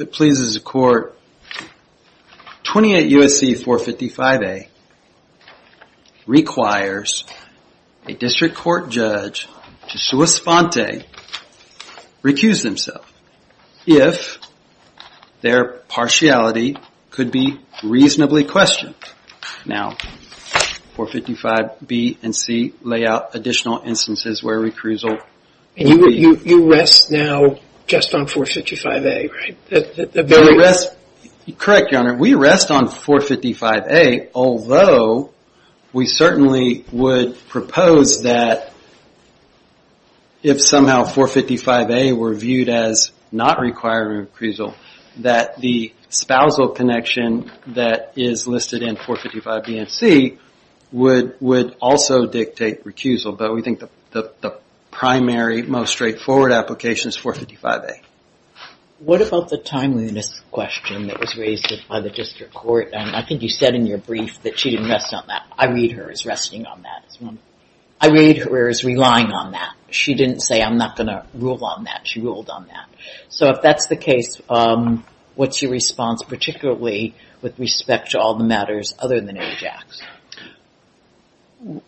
If it pleases the Court, 28 U.S.C. 455A requires a District Court Judge to sua sponte the following recuse themselves if their partiality could be reasonably questioned. Now, 455B and 455C lay out additional instances where recusal could be used. You rest now just on 455A, right? Correct, Your Honor. We rest on 455A, although we certainly would propose that if somehow 455A were viewed as not requiring recusal, that the spousal connection that is listed in 455B and 455C would also dictate recusal. But we think the primary, most straightforward application is 455A. What about the timeliness question that was raised by the District Court? I think you said in your brief that she didn't rest on that. I read her as resting on that. I read her as relying on that. She didn't say, I'm not going to rule on that. She ruled on that. So if that's the case, what's your response, particularly with respect to all the matters other than AJAX?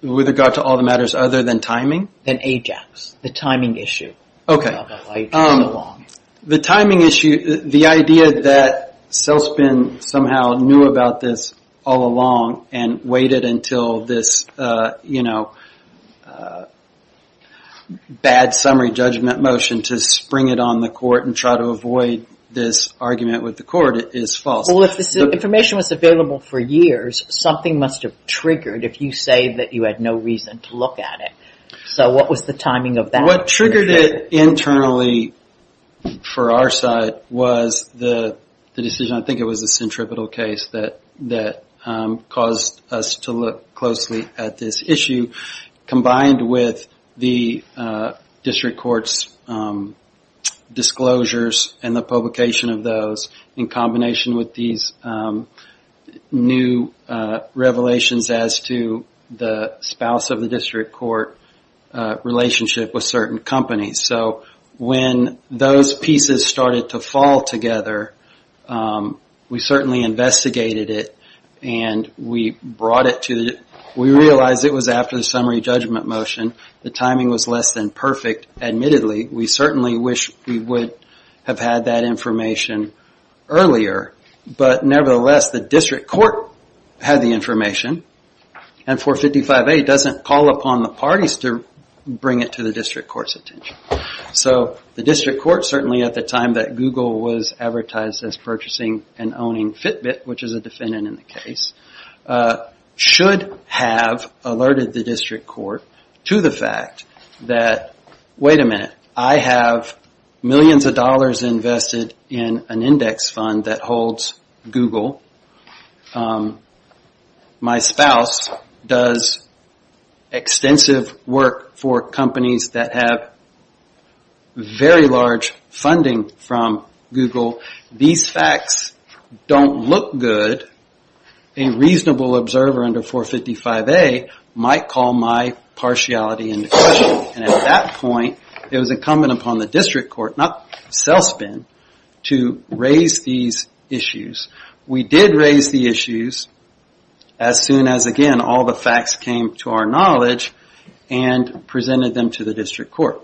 With regard to all the matters other than timing? Than AJAX, the timing issue. The timing issue, the idea that Selspin somehow knew about this all along and waited until this bad summary judgment motion to spring it on the court and try to avoid this argument with the court is false. Well, if this information was available for years, something must have triggered if you say that you had no reason to look at it. So what was the timing of that? What triggered it internally for our side was the decision, I think it was the centripetal case that caused us to look closely at this issue combined with the District Court's disclosures and the publication of those in combination with these new revelations as to the spouse of the District Court relationship with certain companies. So when those pieces started to fall together, we certainly investigated it and we realized it was after the summary judgment motion. The timing was less than perfect, admittedly. We certainly wish we would have had that information earlier, but nevertheless the District Court had the information and 455A doesn't call upon the parties to bring it to the District Court's attention. So the District Court, certainly at the time that Google was advertised as purchasing and owning Fitbit, which is a defendant in the case, should have alerted the District Court to the fact that, wait a minute, I have millions of dollars invested in an index fund that holds Google. My spouse does extensive work for companies that have very large funding from Google. These facts don't look good. A reasonable observer under 455A might call my partiality into question. At that point, it was incumbent upon the District Court, not Selspin, to raise these issues. We did raise the issues as soon as, again, all the facts came to our knowledge and presented them to the District Court.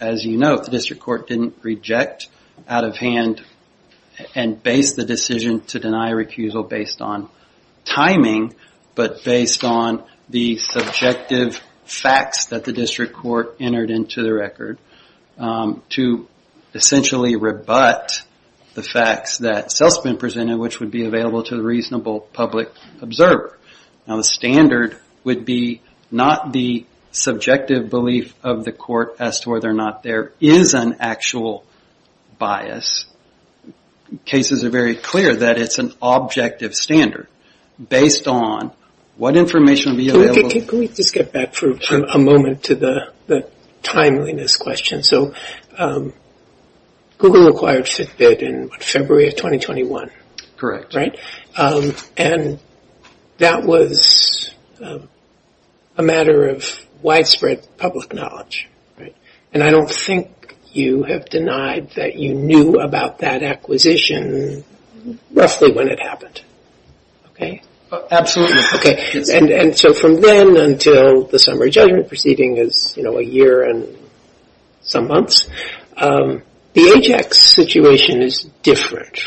As you know, the District Court didn't reject out of hand and base the decision to deny recusal based on timing, but based on the subjective facts that the District Court entered into the record to essentially rebut the facts that Selspin presented, which would be available to the reasonable public observer. Now, the standard would be not the subjective belief of the court as to whether or not there is an actual bias. Cases are very clear that it's an objective standard based on what information would be available. Can we just get back for a moment to the timeliness question? Google acquired Fitbit in February of 2021. Correct. And that was a matter of widespread public knowledge. And I don't think you have denied that you knew about that acquisition roughly when it happened. Absolutely. And so from then until the summary judgment proceeding is a year and some months, the AJAX situation is different.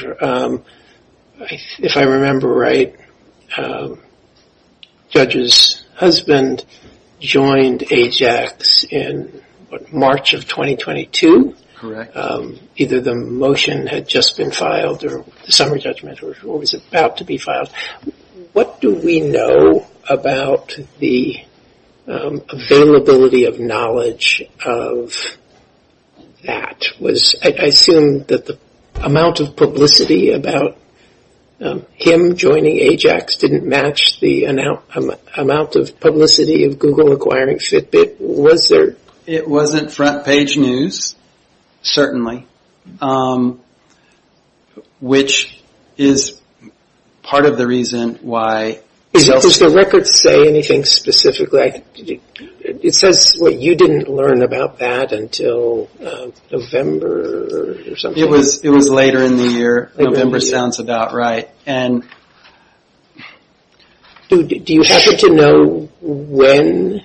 If I remember right, Judge's husband joined AJAX in March of 2022. Correct. Either the motion had just been filed or the summary judgment was about to be filed. What do we know about the availability of knowledge of that? I assume that the amount of publicity about him joining AJAX didn't match the amount of publicity of Google acquiring Fitbit. Was there? It wasn't front page news, certainly, which is part of the reason why. Does the record say anything specifically? It says you didn't learn about that until November or something. It was later in the year. November sounds about right. Do you have to know when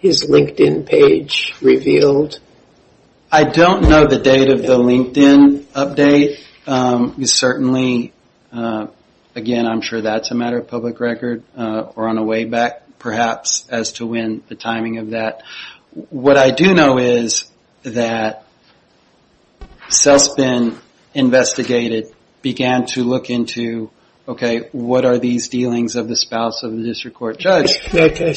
his LinkedIn page revealed? I don't know the date of the LinkedIn update. Certainly, again, I'm sure that's a matter of public record or on a way back, perhaps, as to when the timing of that. What I do know is that CELSPN investigated, began to look into, okay, what are these dealings of the spouse of the district court judge? This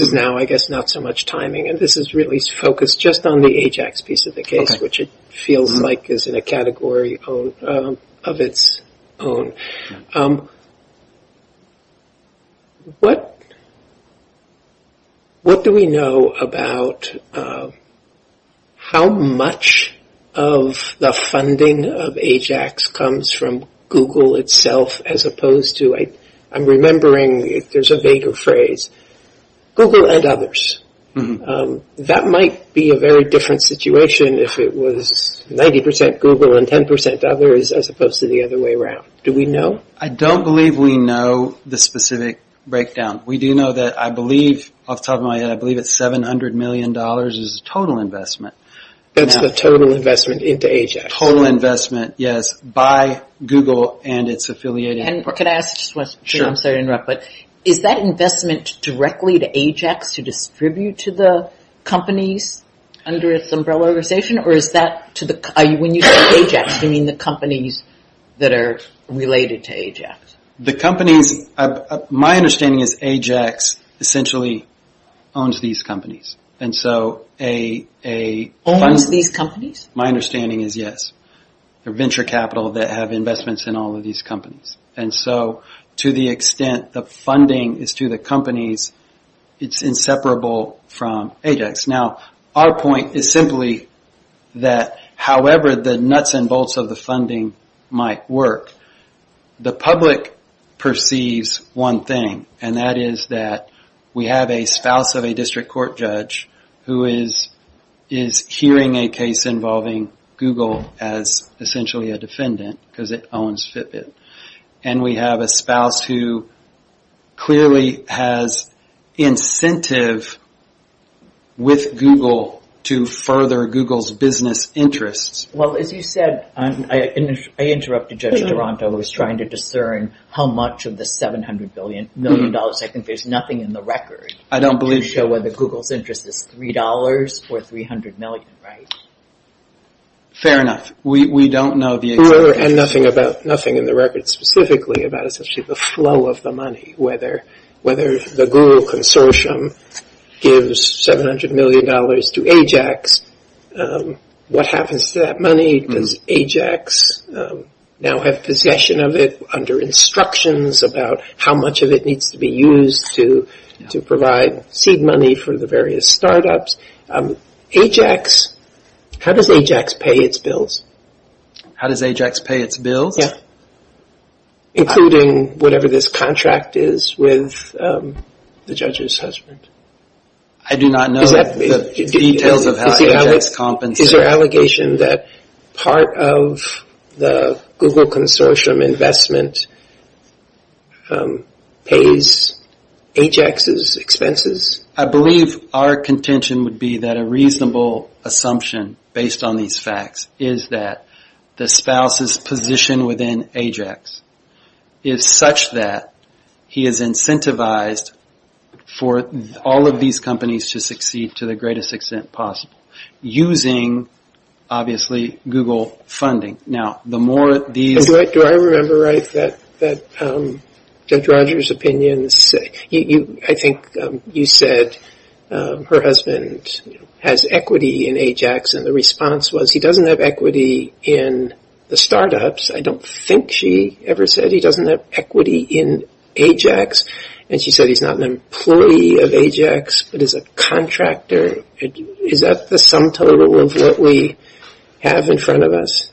is now, I guess, not so much timing. This is really focused just on the AJAX piece of the case, which it feels like is in a category of its own. What do we know about how much of the funding of AJAX comes from Google itself as opposed to, I'm remembering, there's a vaguer phrase, Google and others. That might be a very different situation if it was 90% Google and 10% others as opposed to the other way around. Do we know? I don't believe we know the specific breakdown. We do know that I believe, off the top of my head, I believe it's $700 million as a total investment. That's the total investment into AJAX. Total investment, yes, by Google and its affiliating. I'm sorry to interrupt, but is that investment directly to AJAX to distribute to the companies under its umbrella organization? When you say AJAX, do you mean the companies that are related to AJAX? The companies, my understanding is AJAX essentially owns these companies. Owns these companies? My understanding is yes. They're venture capital that have investments in all of these companies. To the extent the funding is to the companies, it's inseparable from AJAX. Our point is simply that however the nuts and bolts of the funding might work, the public perceives one thing. That is that we have a spouse of a district court judge who is hearing a case involving Google as essentially a defendant because it owns Fitbit. We have a spouse who clearly has incentive with Google to further Google's business interests. Well, as you said, I interrupted Judge Duranto who was trying to discern how much of the $700 million. I think there's nothing in the record to show whether Google's interest is $3 or $300 million, right? Fair enough. We don't know the exact amount. And nothing in the record specifically about essentially the flow of the money, whether the Google consortium gives $700 million to AJAX, what happens to that money? Does AJAX now have possession of it under instructions about how much of it needs to be used to provide seed money for the various startups? AJAX, how does AJAX pay its bills? How does AJAX pay its bills? Including whatever this contract is with the judge's husband. I do not know the details of how AJAX compensates. Is there an allegation that part of the Google consortium investment pays AJAX's expenses? I believe our contention would be that a reasonable assumption based on these facts is that the spouse's position within AJAX is such that he has incentivized for all of these companies to succeed to the greatest extent possible using, obviously, Google funding. Do I remember right that Judge Rogers' opinion, I think you said her husband has equity in AJAX and the response was he doesn't have equity in the startups. I don't think she ever said he doesn't have equity in AJAX and she said he's not an employee of AJAX but is a contractor. Is that the sum total of what we have in front of us?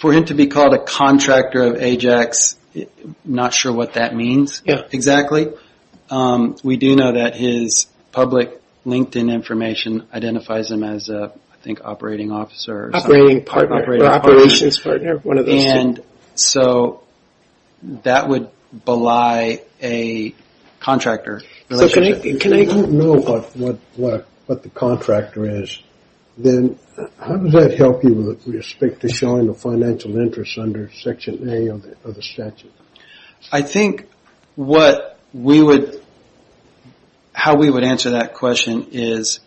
For him to be called a contractor of AJAX, I'm not sure what that means exactly. We do know that his public LinkedIn information identifies him as an operating officer. Operating partner or operations partner, one of those two. So that would belie a contractor relationship. If you don't know what the contractor is, then how does that help you with respect to showing the financial interest under section A of the statute? I think how we would answer that question is,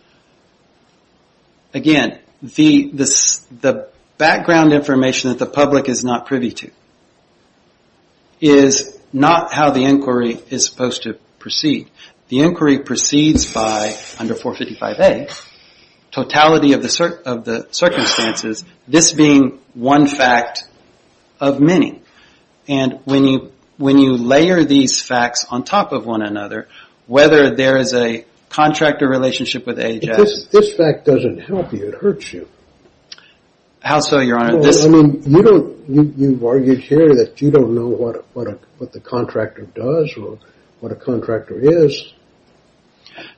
again, the background information that the public is not privy to is not how the inquiry is supposed to proceed. The inquiry proceeds by, under 455A, totality of the circumstances, this being one fact of many. When you layer these facts on top of one another, whether there is a contractor relationship with AJAX... If this fact doesn't help you, it hurts you. How so, your honor? You've argued here that you don't know what the contractor does or what a contractor is.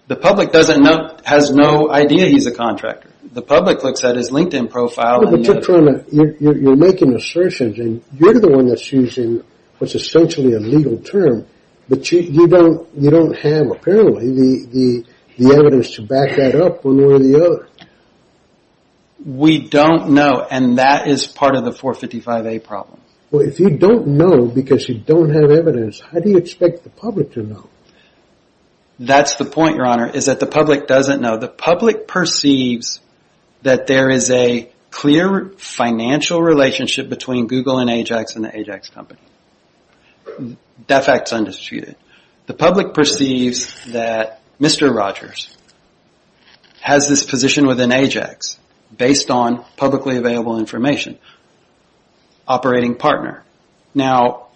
The public has no idea he's a contractor. The public looks at his LinkedIn profile... You're making assertions, and you're the one that's using what's essentially a legal term. But you don't have, apparently, the evidence to back that up one way or the other. We don't know, and that is part of the 455A problem. If you don't know because you don't have evidence, how do you expect the public to know? That's the point, your honor, is that the public doesn't know. The public perceives that there is a clear financial relationship between Google and AJAX and the AJAX company. That fact is undisputed. The public perceives that Mr. Rogers has this position within AJAX based on publicly available information. Operating partner. Now,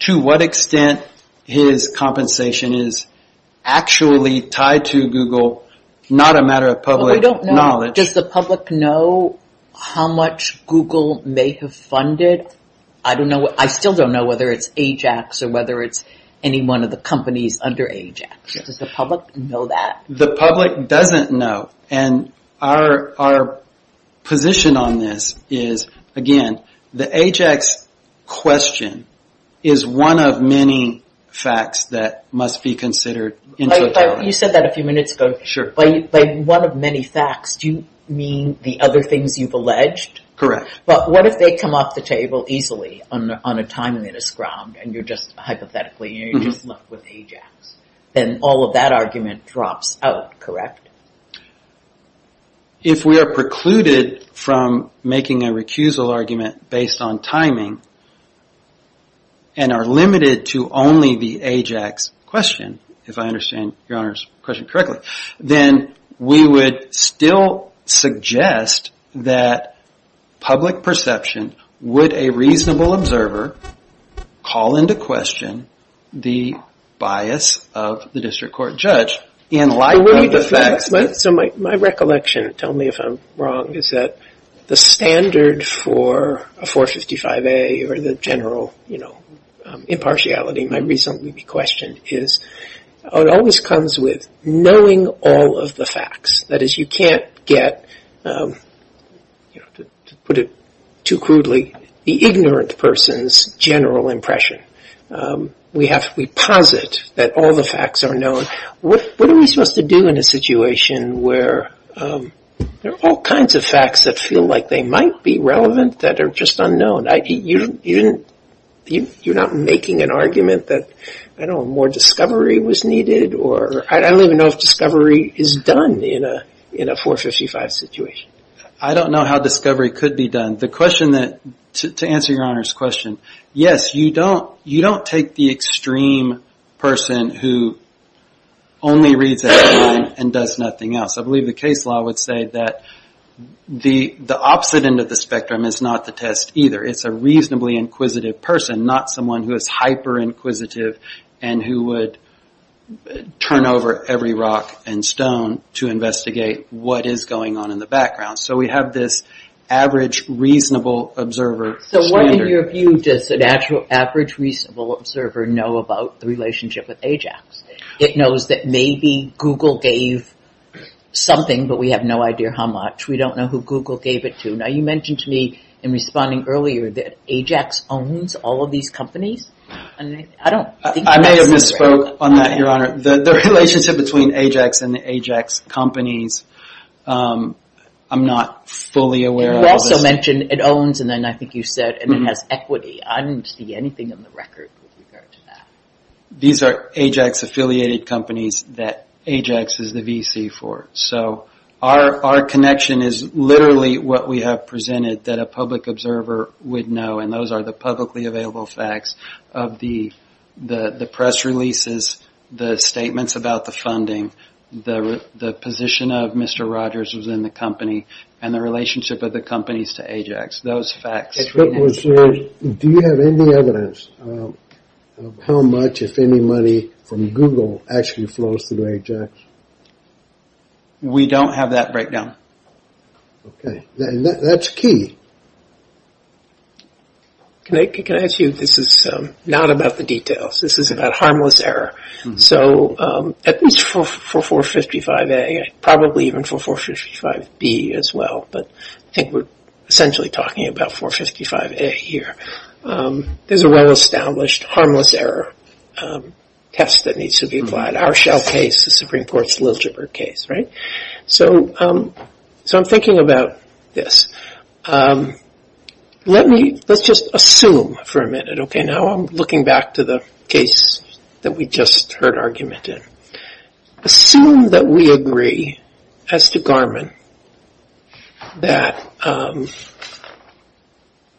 to what extent his compensation is actually tied to Google? Not a matter of public knowledge. We don't know. Does the public know how much Google may have funded? I still don't know whether it's AJAX or whether it's any one of the companies under AJAX. Does the public know that? The public doesn't know. Our position on this is, again, the AJAX question is one of many facts that must be considered. You said that a few minutes ago. Sure. By one of many facts, do you mean the other things you've alleged? Correct. What if they come off the table easily on a timeliness ground and you're just hypothetically, you're just left with AJAX? Then all of that argument drops out, correct? If we are precluded from making a recusal argument based on timing and are limited to only the AJAX question, if I understand your Honor's question correctly, then we would still suggest that public perception would a reasonable observer call into question the bias of the district court judge in light of the facts. My recollection, tell me if I'm wrong, is that the standard for a 455A or the general impartiality might reasonably be questioned. It always comes with knowing all of the facts. That is, you can't get, to put it too crudely, the ignorant person's general impression. We posit that all the facts are known. What are we supposed to do in a situation where there are all kinds of facts that feel like they might be relevant that are just unknown? You're not making an argument that more discovery was needed. I don't even know if discovery is done in a 455 situation. I don't know how discovery could be done. The question that, to answer your Honor's question, yes, you don't take the extreme person who only reads at one and does nothing else. I believe the case law would say that the opposite end of the spectrum is not the test either. It's a reasonably inquisitive person, not someone who is hyper-inquisitive and who would turn over every rock and stone to investigate what is going on in the background. We have this average reasonable observer standard. What, in your view, does an average reasonable observer know about the relationship with AJAX? It knows that maybe Google gave something, but we have no idea how much. We don't know who Google gave it to. You mentioned to me in responding earlier that AJAX owns all of these companies. I may have misspoke on that, your Honor. The relationship between AJAX and the AJAX companies, I'm not fully aware of. You also mentioned it owns, and then I think you said it has equity. I didn't see anything on the record with regard to that. These are AJAX-affiliated companies that AJAX is the VC for. Our connection is literally what we have presented that a public observer would know, and those are the publicly available facts of the press releases, the statements about the funding, the position of Mr. Rogers within the company, and the relationship of the companies to AJAX. Do you have any evidence of how much, if any, money from Google actually flows through AJAX? We don't have that breakdown. Okay. That's key. Can I ask you, this is not about the details. This is about harmless error, so at least for 455A, probably even for 455B as well, but I think we're essentially talking about 455A here. There's a well-established harmless error test that needs to be applied. Our shell case, the Supreme Court's Liljibird case, right? So I'm thinking about this. Let's just assume for a minute, okay? Now I'm looking back to the case that we just heard argument in. Assume that we agree as to Garmin that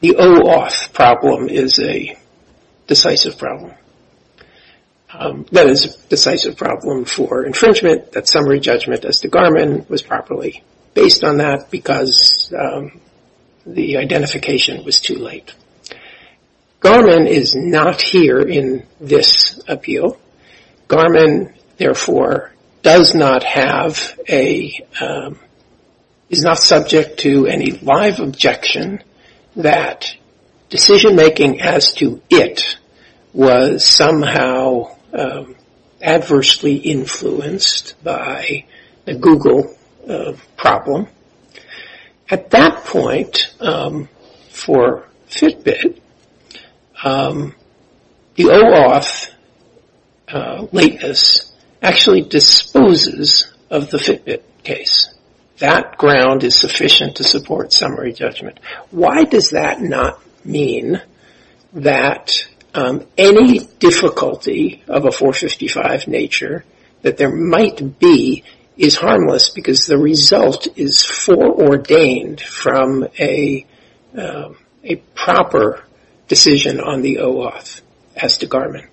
the OAuth problem is a decisive problem. That is a decisive problem for infringement, that summary judgment as to Garmin was properly based on that because the identification was too late. Garmin is not here in this appeal. Garmin, therefore, does not have a, is not subject to any live objection that decision-making as to it was somehow adversely influenced by the Google problem. At that point, for Fitbit, the OAuth lateness actually disposes of the Fitbit case. That ground is sufficient to support summary judgment. Why does that not mean that any difficulty of a 455 nature that there might be is harmless because the result is foreordained from a proper decision on the OAuth as to Garmin?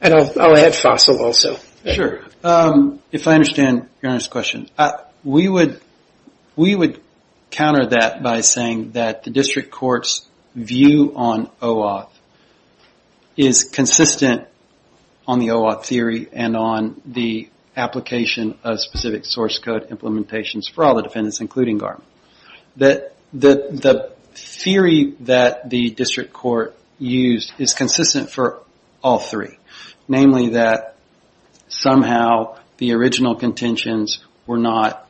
And I'll add Fossil also. If I understand Your Honor's question, we would counter that by saying that the district court's view on OAuth is consistent on the OAuth theory and on the application of specific source code implementations for all the defendants, including Garmin. The theory that the district court used is consistent for all three. Namely that somehow the original contentions were not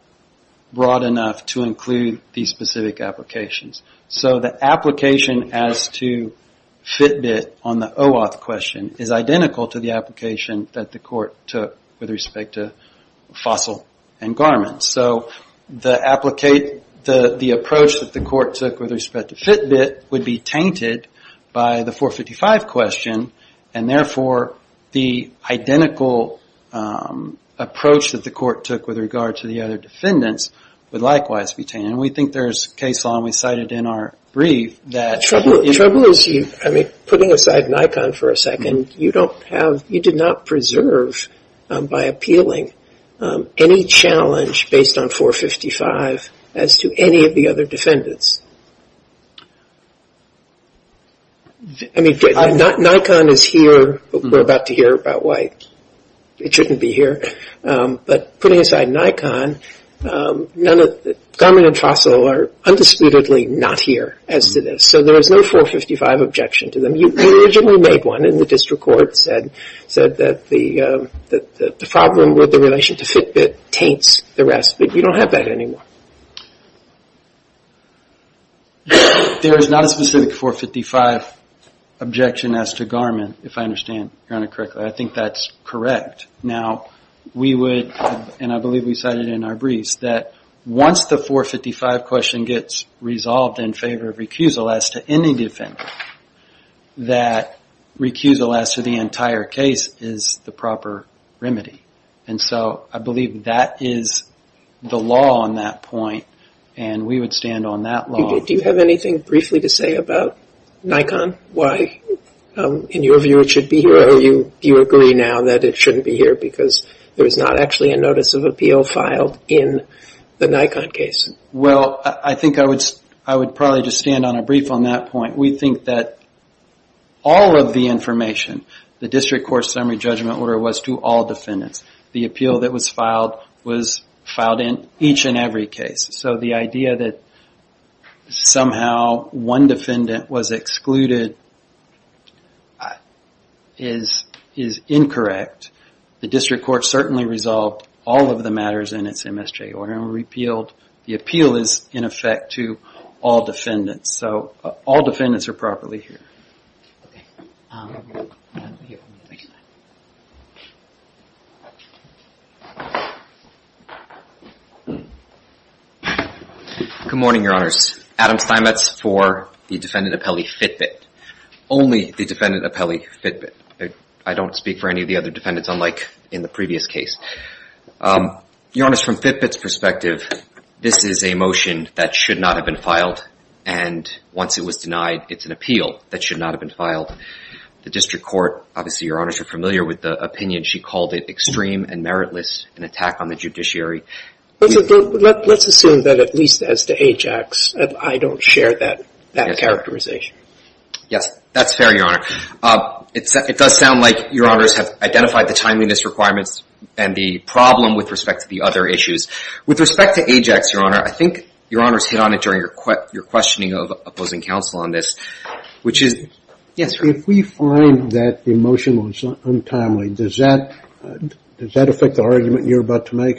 broad enough to include these specific applications. So the application as to Fitbit on the OAuth question is identical to the application that the court took with respect to Fossil and Garmin. So the approach that the court took with respect to Fitbit would be tainted by the 455 question, and therefore the identical approach that the court took with regard to the other defendants would likewise be tainted. And we think there's case law, and we cite it in our brief. The trouble is, putting aside Nikon for a second, you did not preserve by appealing any challenge based on 455 as to any of the other defendants. Nikon is here, but we're about to hear about why it shouldn't be here. But putting aside Nikon, Garmin and Fossil are undisputedly not here as to this. So there is no 455 objection to them. You originally made one, and the district court said that the problem with the relation to Fitbit taints the rest, but you don't have that anymore. There is not a specific 455 objection as to Garmin, if I understand Your Honor correctly. I think that's correct. Now, we would, and I believe we cite it in our briefs, that once the 455 question gets resolved in favor of recusal as to any defendant, that recusal as to the entire case is the proper remedy. And so I believe that is the law on that point, and we would stand on that law. Do you have anything briefly to say about Nikon, why, in your view, it should be here? Or do you agree now that it shouldn't be here because there is not actually a notice of appeal filed in the Nikon case? Well, I think I would probably just stand on a brief on that point. We think that all of the information, the district court summary judgment order was to all defendants. The appeal that was filed was filed in each and every case. So the idea that somehow one defendant was excluded is incorrect. The district court certainly resolved all of the matters in its MSJ order and repealed. The appeal is, in effect, to all defendants, so all defendants are properly here. Good morning, Your Honors. Adam Steinmetz for the defendant appellee Fitbit. Only the defendant appellee Fitbit. I don't speak for any of the other defendants, unlike in the previous case. Your Honors, from Fitbit's perspective, this is a motion that should not have been filed, and once it was denied, it's an appeal that should not have been filed. The district court, obviously, Your Honors, are familiar with the opinion. She called it extreme and meritless, an attack on the judiciary. Let's assume that at least as to AJAX, I don't share that characterization. Yes, that's fair, Your Honor. It does sound like Your Honors have identified the timeliness requirements and the problem with respect to the other issues. With respect to AJAX, Your Honor, I think Your Honors hit on it during your questioning of opposing counsel on this, which is, yes, sir? If we find that the motion was untimely, does that affect the argument you're about to make?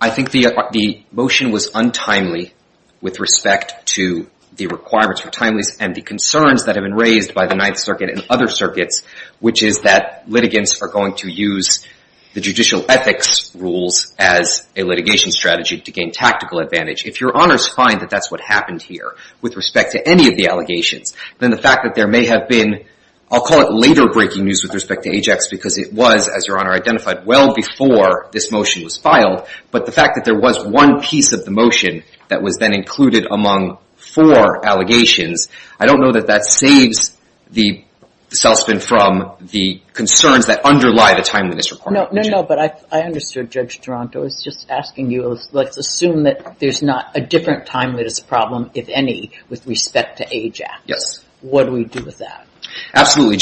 I think the motion was untimely with respect to the requirements for timeliness and the concerns that have been raised by the Ninth Circuit and other circuits, which is that litigants are going to use the judicial ethics rules as a litigation strategy to gain tactical advantage. If Your Honors find that that's what happened here with respect to any of the allegations, then the fact that there may have been, I'll call it later breaking news with respect to AJAX because it was, as Your Honor identified, well before this motion was filed, but the fact that there was one piece of the motion that was then included among four allegations, I don't know that that saves the salesman from the concerns that underlie the timeliness requirement. No, no, no, but I understood, Judge Duranto. I was just asking you, let's assume that there's not a different timeliness problem, if any, with respect to AJAX. Yes. What do we do with that? Absolutely.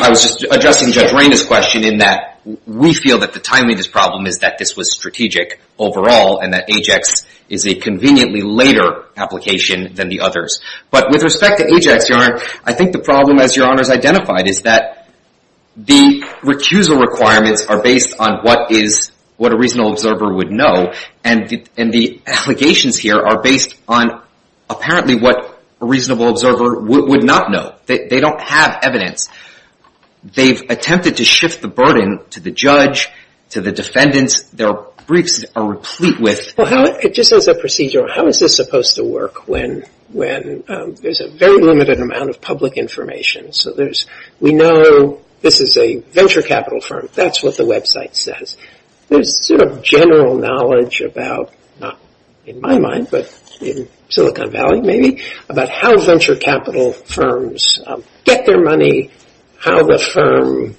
I was just addressing Judge Raina's question in that we feel that the timeliness problem is that this was strategic overall and that AJAX is a conveniently later application than the others. But with respect to AJAX, Your Honor, I think the problem, as Your Honors identified, is that the recusal requirements are based on what a reasonable observer would know, and the allegations here are based on apparently what a reasonable observer would not know. They don't have evidence. They've attempted to shift the burden to the judge, to the defendants. Their briefs are replete with. Well, just as a procedure, how is this supposed to work when there's a very limited amount of public information? So we know this is a venture capital firm. That's what the website says. There's sort of general knowledge about, not in my mind, but in Silicon Valley maybe, about how venture capital firms get their money, how the firm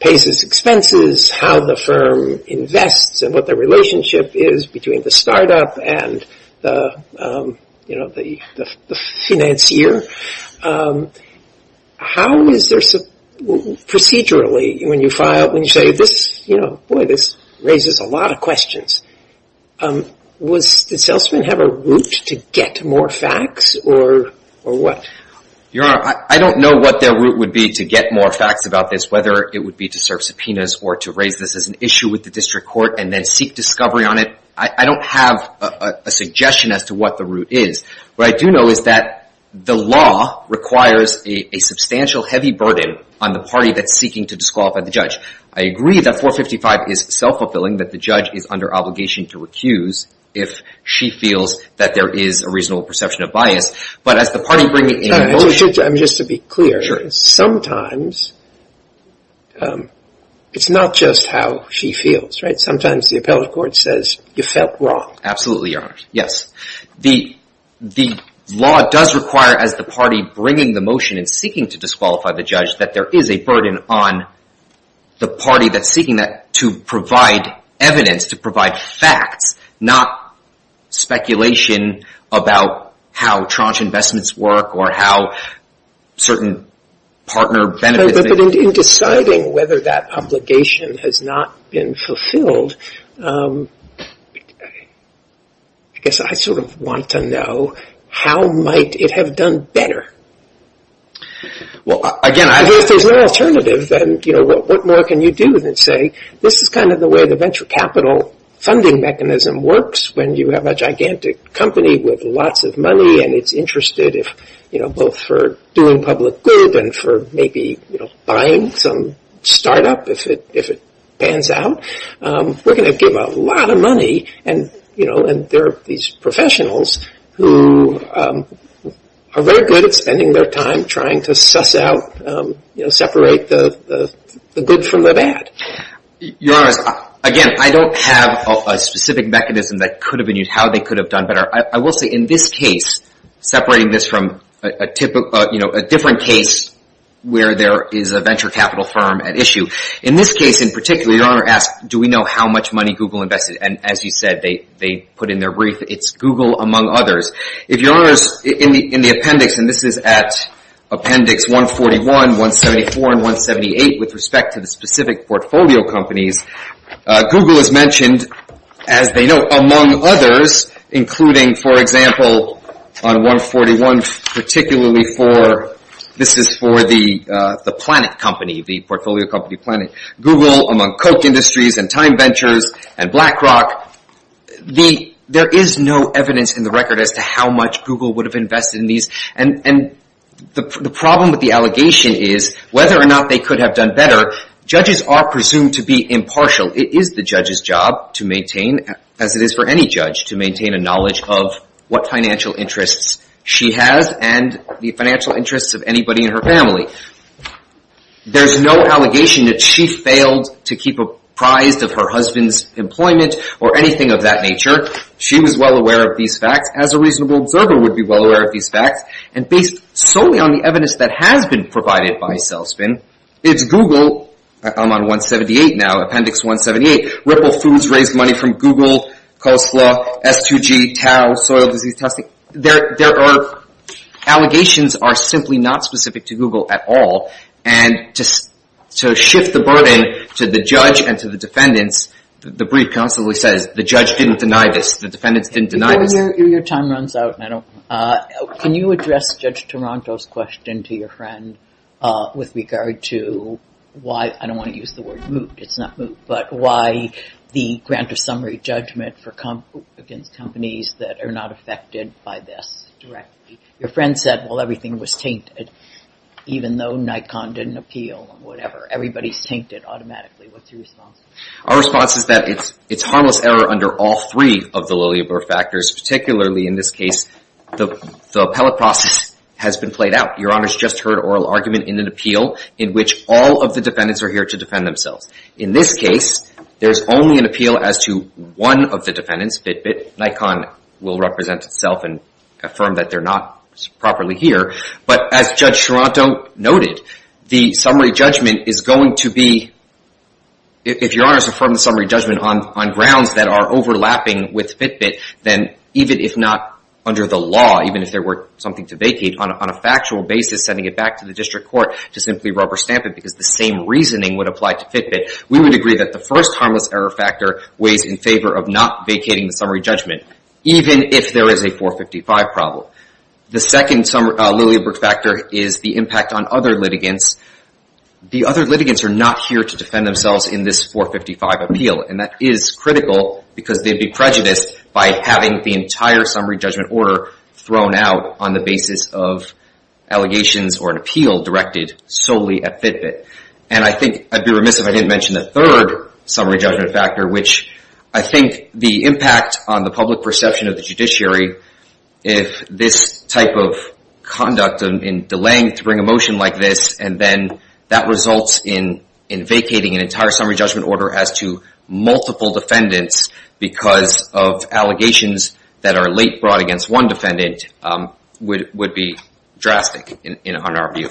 pays its expenses, how the firm invests and what the relationship is between the startup and the financier. How is there some procedurally when you file, when you say this, you know, boy, this raises a lot of questions. Does Selzman have a route to get more facts or what? Your Honor, I don't know what their route would be to get more facts about this, whether it would be to serve subpoenas or to raise this as an issue with the district court and then seek discovery on it. I don't have a suggestion as to what the route is. What I do know is that the law requires a substantial heavy burden on the party that's seeking to disqualify the judge. I agree that 455 is self-fulfilling, that the judge is under obligation to recuse if she feels that there is a reasonable perception of bias. But as the party bringing in a motion... Your Honor, just to be clear, sometimes it's not just how she feels, right? Sometimes the appellate court says you felt wrong. Absolutely, Your Honor. Yes. The law does require, as the party bringing the motion and seeking to disqualify the judge, that there is a burden on the party that's seeking that to provide evidence, to provide facts, not speculation about how tranche investments work or how certain partner benefits... But in deciding whether that obligation has not been fulfilled, I guess I sort of want to know how might it have done better? Well, again, I... If there's no alternative, then, you know, what more can you do than say, this is kind of the way the venture capital funding mechanism works when you have a gigantic company with lots of money and it's interested both for doing public good and for maybe buying some startup if it pans out. We're going to give a lot of money and there are these professionals who are very good at spending their time trying to suss out, separate the good from the bad. Your Honor, again, I don't have a specific mechanism that could have been used, how they could have done better. I will say in this case, separating this from a different case where there is a venture capital firm at issue, in this case in particular, Your Honor asks, do we know how much money Google invested? And as you said, they put in their brief, it's Google among others. If Your Honor is in the appendix, and this is at appendix 141, 174, and 178 with respect to the specific portfolio companies, Google is mentioned, as they know, among others, including, for example, on 141, particularly for, this is for the planet company, the portfolio company planet. Google among Koch Industries and Time Ventures and BlackRock, there is no evidence in the record as to how much Google would have invested in these. And the problem with the allegation is whether or not they could have done better, judges are presumed to be impartial. It is the judge's job to maintain, as it is for any judge, to maintain a knowledge of what financial interests she has and the financial interests of anybody in her family. There is no allegation that she failed to keep apprised of her husband's employment or anything of that nature. She was well aware of these facts, as a reasonable observer would be well aware of these facts, and based solely on the evidence that has been provided by Selspin, it's Google, I'm on 178 now, appendix 178, Ripple Foods raised money from Google, Coleslaw, S2G, Tao, Soil Disease Testing. There are, allegations are simply not specific to Google at all, and to shift the burden to the judge and to the defendants, the brief constantly says the judge didn't deny this, the defendants didn't deny this. Your time runs out. Can you address Judge Taranto's question to your friend with regard to why, I don't want to use the word moot, it's not moot, but why the grant of summary judgment against companies that are not affected by this directly? Your friend said, well, everything was tainted, even though Nikon didn't appeal, and whatever, everybody's tainted automatically. What's your response? Our response is that it's harmless error under all three of the Lilleberg factors, particularly in this case, the appellate process has been played out. Your Honor's just heard oral argument in an appeal in which all of the defendants are here to defend themselves. In this case, there's only an appeal as to one of the defendants, BitBit. Nikon will represent itself and affirm that they're not properly here, but as Judge Taranto noted, the summary judgment is going to be, if Your Honor has affirmed the summary judgment on grounds that are overlapping with FitBit, then even if not under the law, even if there were something to vacate, on a factual basis, sending it back to the district court to simply rubber stamp it because the same reasoning would apply to FitBit, we would agree that the first harmless error factor weighs in favor of not vacating the summary judgment, even if there is a 455 problem. The second Lilleberg factor is the impact on other litigants. The other litigants are not here to defend themselves in this 455 appeal, and that is critical because they'd be prejudiced by having the entire summary judgment order thrown out on the basis of allegations or an appeal directed solely at FitBit. And I think I'd be remiss if I didn't mention the third summary judgment factor, which I think the impact on the public perception of the judiciary, if this type of conduct in delaying to bring a motion like this and then that results in vacating an entire summary judgment order as to multiple defendants because of allegations that are late brought against one defendant would be drastic on our view.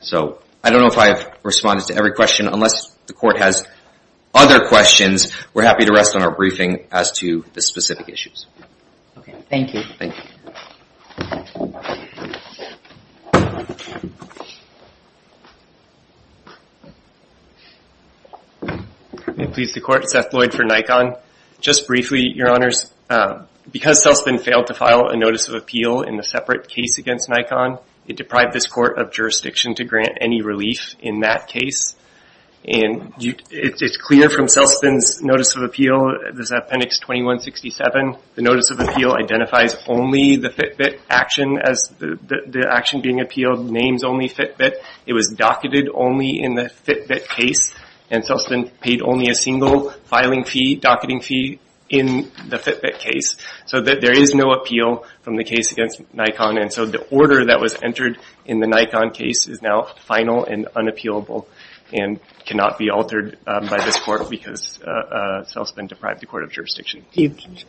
So I don't know if I've responded to every question. Unless the court has other questions, we're happy to rest on our briefing as to the specific issues. Okay. Thank you. May it please the court, Seth Lloyd for Nikon. Just briefly, Your Honors, because Celspin failed to file a notice of appeal in a separate case against Nikon, it deprived this court of jurisdiction to grant any relief in that case. And it's clear from Celspin's notice of appeal, this appendix 2167, the notice of appeal identifies only the FitBit action as the action being appealed, names only FitBit. It was docketed only in the FitBit case. And Celspin paid only a single filing fee, docketing fee, in the FitBit case. So there is no appeal from the case against Nikon. And so the order that was entered in the Nikon case is now final and unappealable and cannot be altered by this court because Celspin deprived the court of jurisdiction.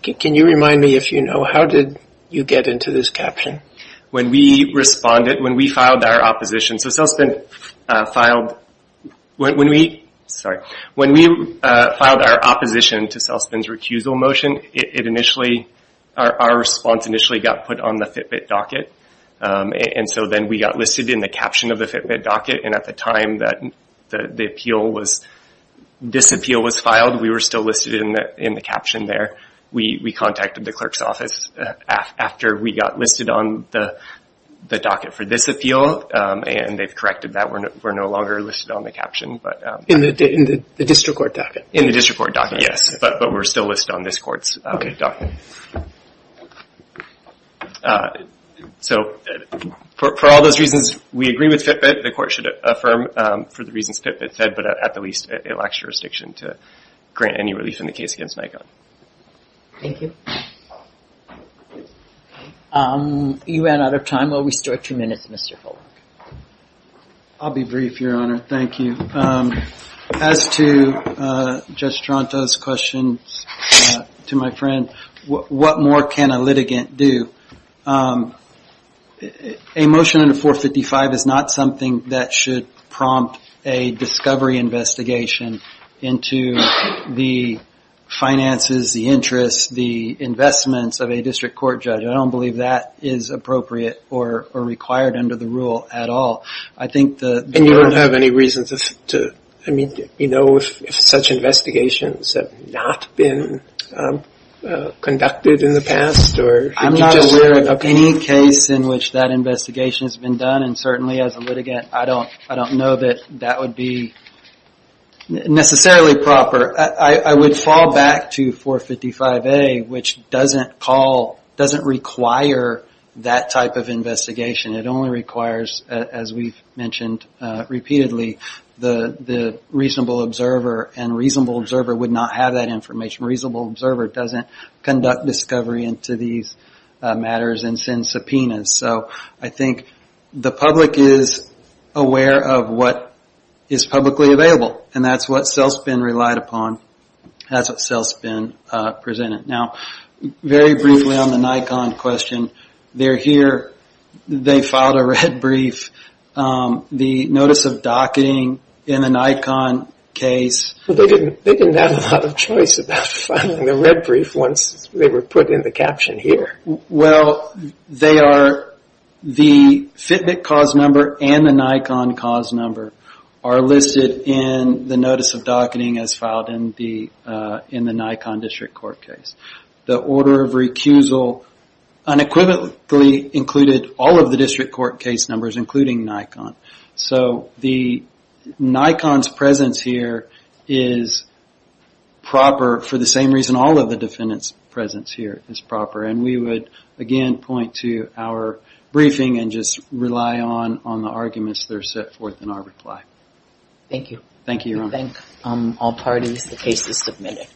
Can you remind me, if you know, how did you get into this caption? When we responded, when we filed our opposition to Celspin's recusal motion, our response initially got put on the FitBit docket. And so then we got listed in the caption of the FitBit docket. And at the time that this appeal was filed, we were still listed in the caption there. We contacted the clerk's office after we got listed on the docket for this appeal, and they've corrected that we're no longer listed on the caption. In the district court docket? In the district court docket, yes. But we're still listed on this court's docket. So for all those reasons, we agree with FitBit. The court should affirm for the reasons FitBit said, but at the least, it lacks jurisdiction to grant any relief in the case against Nikon. Thank you. You ran out of time. We'll restore two minutes, Mr. Folk. I'll be brief, Your Honor. Thank you. As to Judge Stronto's question to my friend, what more can a litigant do? A motion under 455 is not something that should prompt a discovery investigation into the finances, the interests, the investments of a district court judge. I don't believe that is appropriate or required under the rule at all. And you don't have any reason to, I mean, you know if such investigations have not been conducted in the past? I'm not aware of any case in which that investigation has been done, and certainly as a litigant I don't know that that would be necessarily proper. I would fall back to 455A, which doesn't call, doesn't require that type of investigation. It only requires, as we've mentioned repeatedly, the reasonable observer, and a reasonable observer would not have that information. A reasonable observer doesn't conduct discovery into these matters and send subpoenas. So I think the public is aware of what is publicly available, and that's what CELSPN relied upon, that's what CELSPN presented. Now, very briefly on the Nikon question. They're here, they filed a red brief, the notice of docketing in the Nikon case. They didn't have a lot of choice about filing the red brief once they were put in the caption here. Well, they are, the Fitbit cause number and the Nikon cause number are listed in the notice of docketing as filed in the Nikon district court case. The order of recusal unequivocally included all of the district court case numbers, including Nikon. So the Nikon's presence here is proper for the same reason all of the defendant's presence here is proper, and we would again point to our briefing and just rely on the arguments that are set forth in our reply. Thank you. Thank you, Your Honor. We thank all parties, the cases submitted.